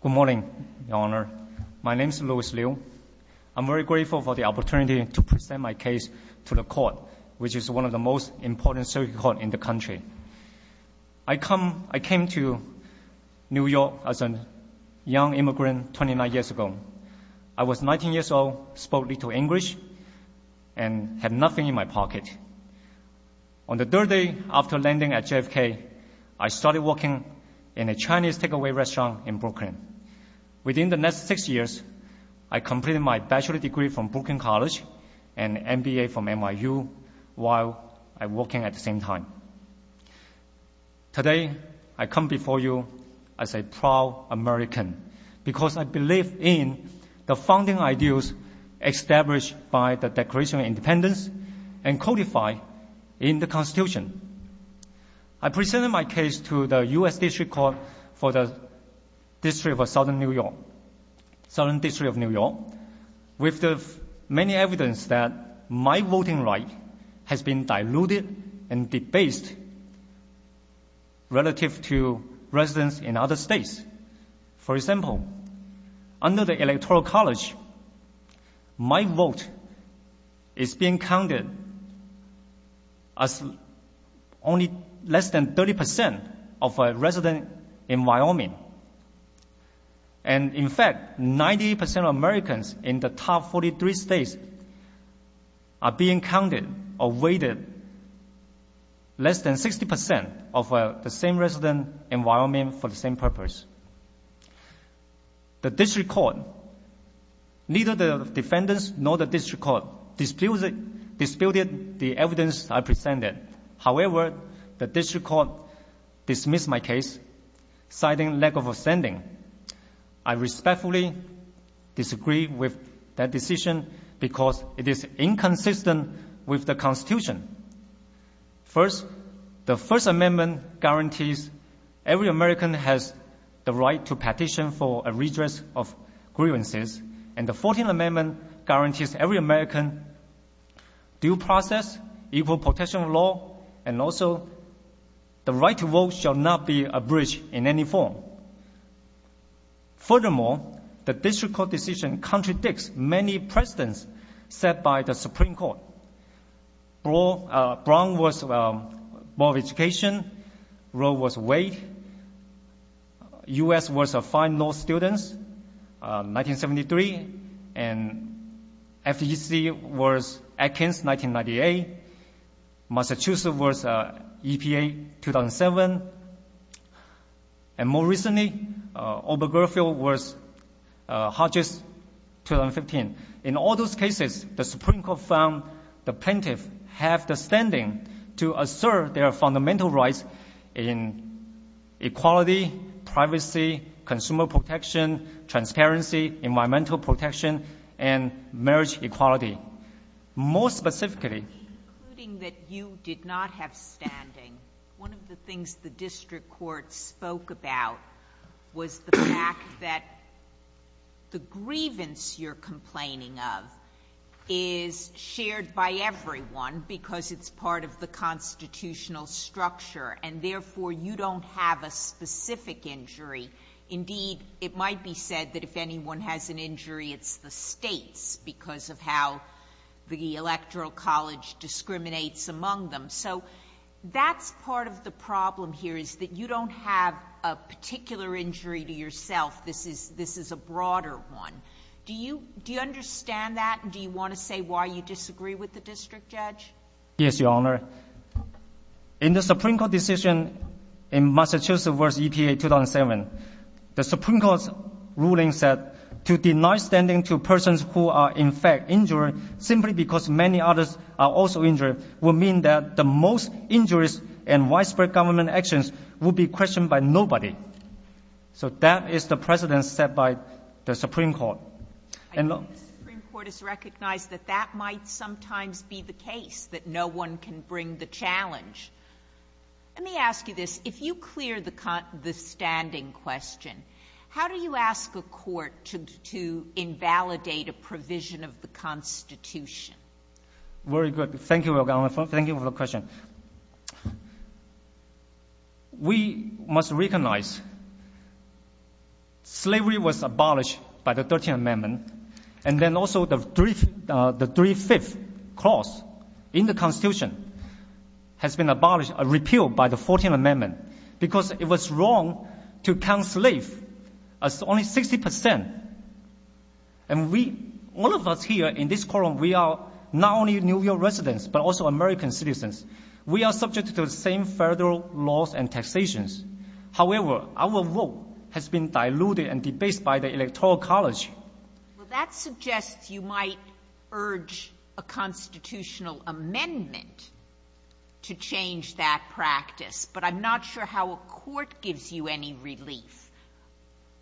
Good morning, Your Honor. My name is Louis Liu. I'm very grateful for the opportunity to present my case to the court, which is one of the most important circuit courts in the country. I came to New York as a young immigrant 29 years ago. I was 19 years old, spoke little English, and had nothing in my pocket. On the third day after landing at JFK, I started working in a Chinese takeaway restaurant in Brooklyn. Within the next six years, I completed my bachelor's degree from Brooklyn College and an MBA from NYU while I was working at the same time. Today I come before you as a proud American because I believe in the founding ideals established by the Declaration of Independence and codified in the Constitution. I present my case to the U.S. District Court for the District of Southern New York, Southern District of New York, with the many evidence that my voting right has been diluted and debased relative to residents in other states. For example, under the Electoral College, my vote is being counted as only less than 30% of residents in Wyoming. And in fact, 98% of Americans in the top 43 states are being counted or weighted less than 60% of the same resident in Wyoming for the same purpose. The district court, neither the defendants nor the district court, disputed the evidence I presented. However, the district court dismissed my case, citing lack of understanding. I respectfully disagree with that decision because it is inconsistent with the Constitution. First, the First Amendment guarantees every American has the right to petition for a redress of grievances, and the Fourteenth Amendment guarantees every American due process, equal protection of law, and also the right to vote shall not be abridged in any form. Furthermore, the district court decision contradicts many precedents set by the Supreme Court. Brown was Board of Education, Roe was Wade, U.S. was Fine Law Students, 1973, and FEC was Atkins, 1998, Massachusetts was EPA, 2007, and more recently, Obergefell was Hodges, 2015. In all those cases, the Supreme Court found the plaintiff has the standing to assert their fundamental rights in equality, privacy, consumer protection, transparency, environmental protection, and marriage equality. More specifically- Including that you did not have standing, one of the things the district court spoke about was the fact that the grievance you're complaining of is shared by everyone because it's part of the constitutional structure, and therefore, you don't have a specific injury. Indeed, it might be said that if anyone has an injury, it's the states because of how the electoral college discriminates among them. So that's part of the problem here, is that you don't have a particular injury to yourself. This is a broader one. Do you understand that? Do you want to say why you disagree with the district judge? Yes, Your Honor. In the Supreme Court decision in Massachusetts v. EPA, 2007, the Supreme Court's ruling said to deny standing to persons who are, in fact, injured simply because many others are also injured will mean that the most injurious and widespread government actions will be questioned by nobody. So that is the precedent set by the Supreme Court. And look- I think the Supreme Court has recognized that that might sometimes be the case, that no one can bring the challenge. Let me ask you this. If you clear the standing question, how do you ask a court to invalidate a provision of the Constitution? Very good. Thank you, Your Honor. Thank you for the question. We must recognize slavery was abolished by the 13th Amendment. And then also the three-fifth clause in the Constitution has been repealed by the 14th Amendment because it was wrong to count slaves as only 60 percent. And we, all of us here in this courtroom, we are not only New York residents, but also American citizens. We are subject to the same federal laws and taxations. However, our vote has been diluted and debased by the Electoral College. Well, that suggests you might urge a constitutional amendment to change that practice. But I'm not sure how a court gives you any relief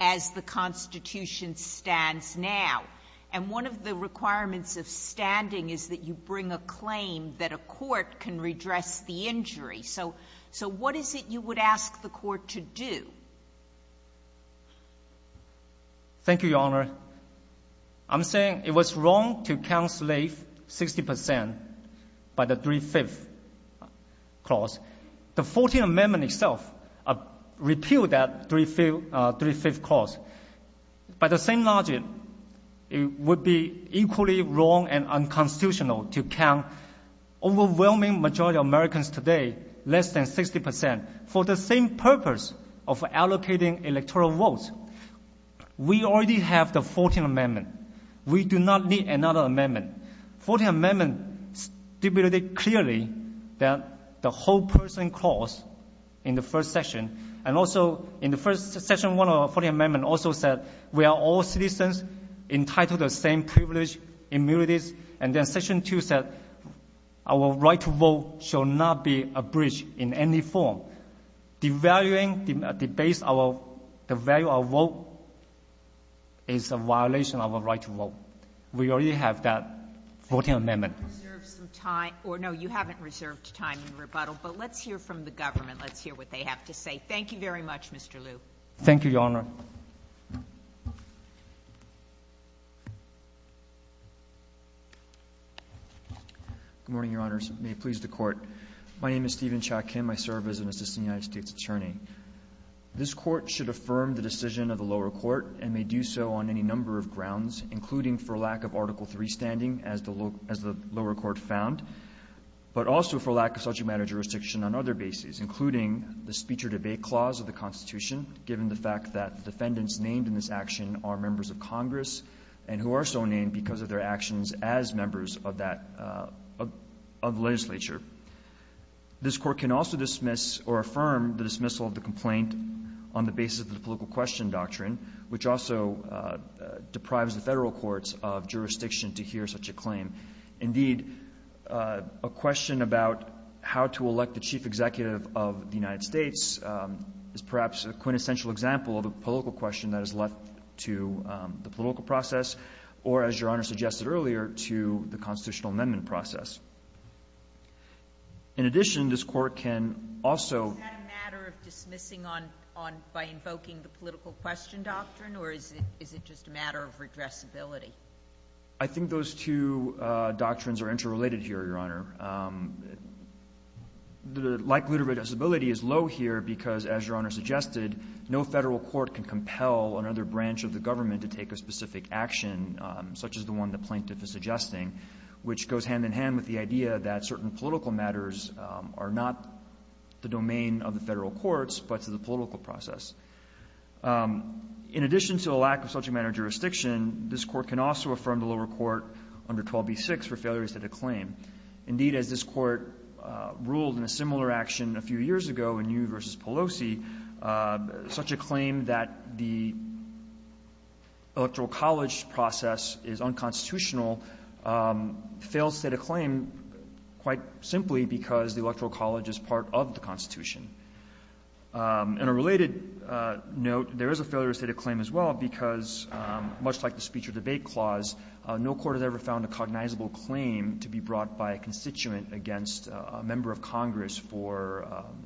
as the Constitution stands now. And one of the requirements of standing is that you bring a claim that a court can redress the injury. So what is it you would ask the court to do? Thank you, Your Honor. I'm saying it was wrong to count slaves 60 percent by the three-fifth clause. The 14th Amendment itself repealed that three-fifth clause. By the same logic, it would be equally wrong and unconstitutional to count overwhelming majority of Americans today less than 60 percent for the same purpose of allocating electoral votes. We already have the 14th Amendment. We do not need another amendment. 14th Amendment stipulated clearly that the whole person clause in the first section and also in the first section one of the 14th Amendment also said we are all citizens entitled to the same privilege, immunities. And then section two said our right to vote shall not be abridged in any form. Devaluing, debasing the value of our vote is a violation of our right to vote. We already have that 14th Amendment. You have reserved some time. Or, no, you haven't reserved time in rebuttal. But let's hear from the government. Let's hear what they have to say. Thank you very much, Mr. Liu. Thank you, Your Honor. Good morning, Your Honors. May it please the Court. My name is Stephen Cha-Kim. I serve as an assistant United States attorney. This Court should affirm the decision of the lower court and may do so on any number of grounds, including for lack of Article III standing, as the lower court found, but also for lack of such a matter of jurisdiction on other bases, including the speech or debate clause of the Constitution, given the fact that the defendants named in this action are members of Congress and who are so named because of their actions as members of that legislature. This Court can also dismiss or affirm the dismissal of the complaint on the basis of the political question doctrine, which also deprives the Federal courts of jurisdiction to hear such a claim. Indeed, a question about how to elect the chief executive of the United States is perhaps a quintessential example of a political question that is left to the political process or, as Your Honor suggested earlier, to the constitutional amendment process. In addition, this Court can also ---- By invoking the political question doctrine, or is it just a matter of regressibility? I think those two doctrines are interrelated here, Your Honor. Likelihood of regressibility is low here because, as Your Honor suggested, no Federal court can compel another branch of the government to take a specific action, such as the one the plaintiff is suggesting, which goes hand in hand with the idea that certain political matters are not the domain of the Federal courts, but to the political process. In addition to a lack of such a matter of jurisdiction, this Court can also affirm the lower court under 12b-6 for failure to state a claim. Indeed, as this Court ruled in a similar action a few years ago in Yu v. Pelosi, such a claim that the electoral college process is unconstitutional fails to state a claim quite simply because the electoral college is part of the Constitution. In a related note, there is a failure to state a claim as well because, much like the speech-or-debate clause, no court has ever found a cognizable claim to be brought by a constituent against a member of Congress for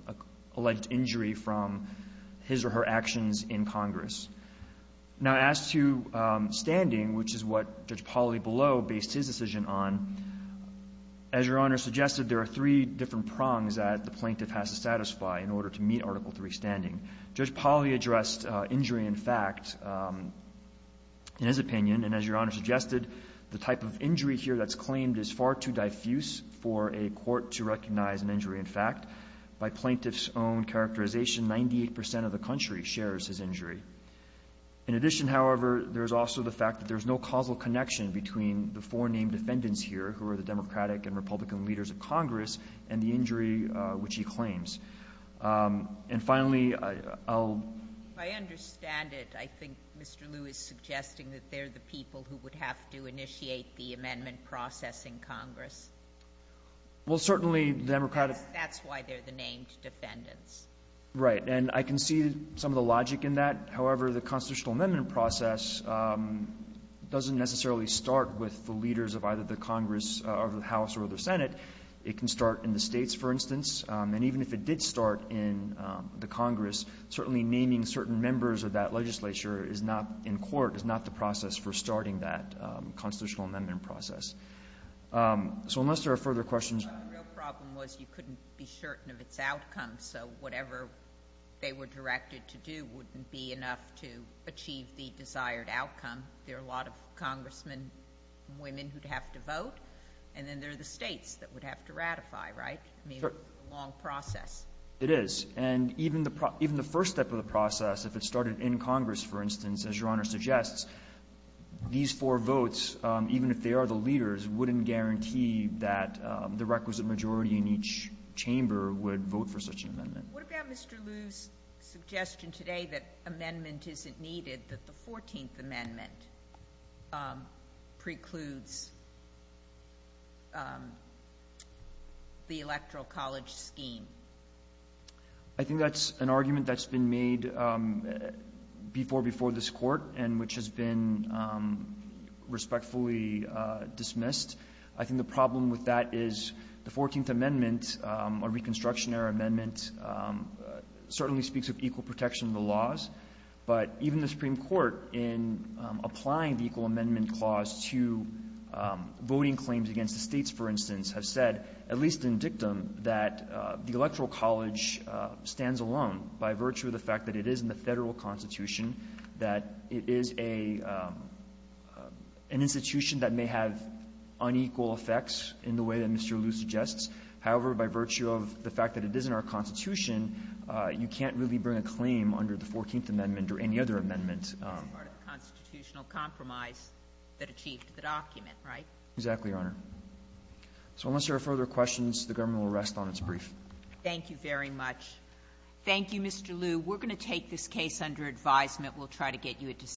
a alleged injury from his or her actions in Congress. Now, as to standing, which is what Judge Palibello based his decision on, as Your Honor suggested, there are three different prongs that the plaintiff has to satisfy in order to meet Article III standing. Judge Pali addressed injury in fact in his opinion, and as Your Honor suggested, the type of injury here that's claimed is far too diffuse for a court to recognize an injury in fact. By plaintiff's own characterization, 98 percent of the country shares his injury. In addition, however, there is also the fact that there is no causal connection between the four named defendants here, who are the Democratic and Republican leaders of Congress, and the injury which he claims. And finally, I'll — If I understand it, I think Mr. Liu is suggesting that they're the people who would have to initiate the amendment process in Congress. Well, certainly, the Democratic — That's why they're the named defendants. Right. And I can see some of the logic in that. However, the constitutional amendment process doesn't necessarily start with the leaders of either the Congress or the House or the Senate. It can start in the states, for instance. And even if it did start in the Congress, certainly naming certain members of that legislature is not — in court is not the process for starting that constitutional amendment process. So unless there are further questions — Well, the real problem was you couldn't be certain of its outcome. So whatever they were directed to do wouldn't be enough to achieve the desired outcome. There are a lot of congressmen and women who'd have to vote, and then there are the Congressmen that would have to ratify, right? Sure. I mean, it's a long process. It is. And even the first step of the process, if it started in Congress, for instance, as Your Honor suggests, these four votes, even if they are the leaders, wouldn't guarantee that the requisite majority in each chamber would vote for such an amendment. What about Mr. Liu's suggestion today that amendment isn't needed, that the 14th Amendment precludes the electoral college scheme? I think that's an argument that's been made before before this Court and which has been respectfully dismissed. I think the problem with that is the 14th Amendment, a Reconstruction era amendment, certainly speaks of equal protection of the laws. But even the Supreme Court, in applying the Equal Amendment Clause to voting claims against the States, for instance, has said, at least in dictum, that the electoral college stands alone by virtue of the fact that it is in the Federal Constitution, that it is a an institution that may have unequal effects in the way that Mr. Liu suggests. However, by virtue of the fact that it is in our Constitution, you can't really bring a claim under the 14th Amendment or any other amendment. It's part of the constitutional compromise that achieved the document, right? Exactly, Your Honor. So unless there are further questions, the government will rest on its brief. Thank you very much. Thank you, Mr. Liu. We're going to take this case under advisement. We'll try to get you a decision.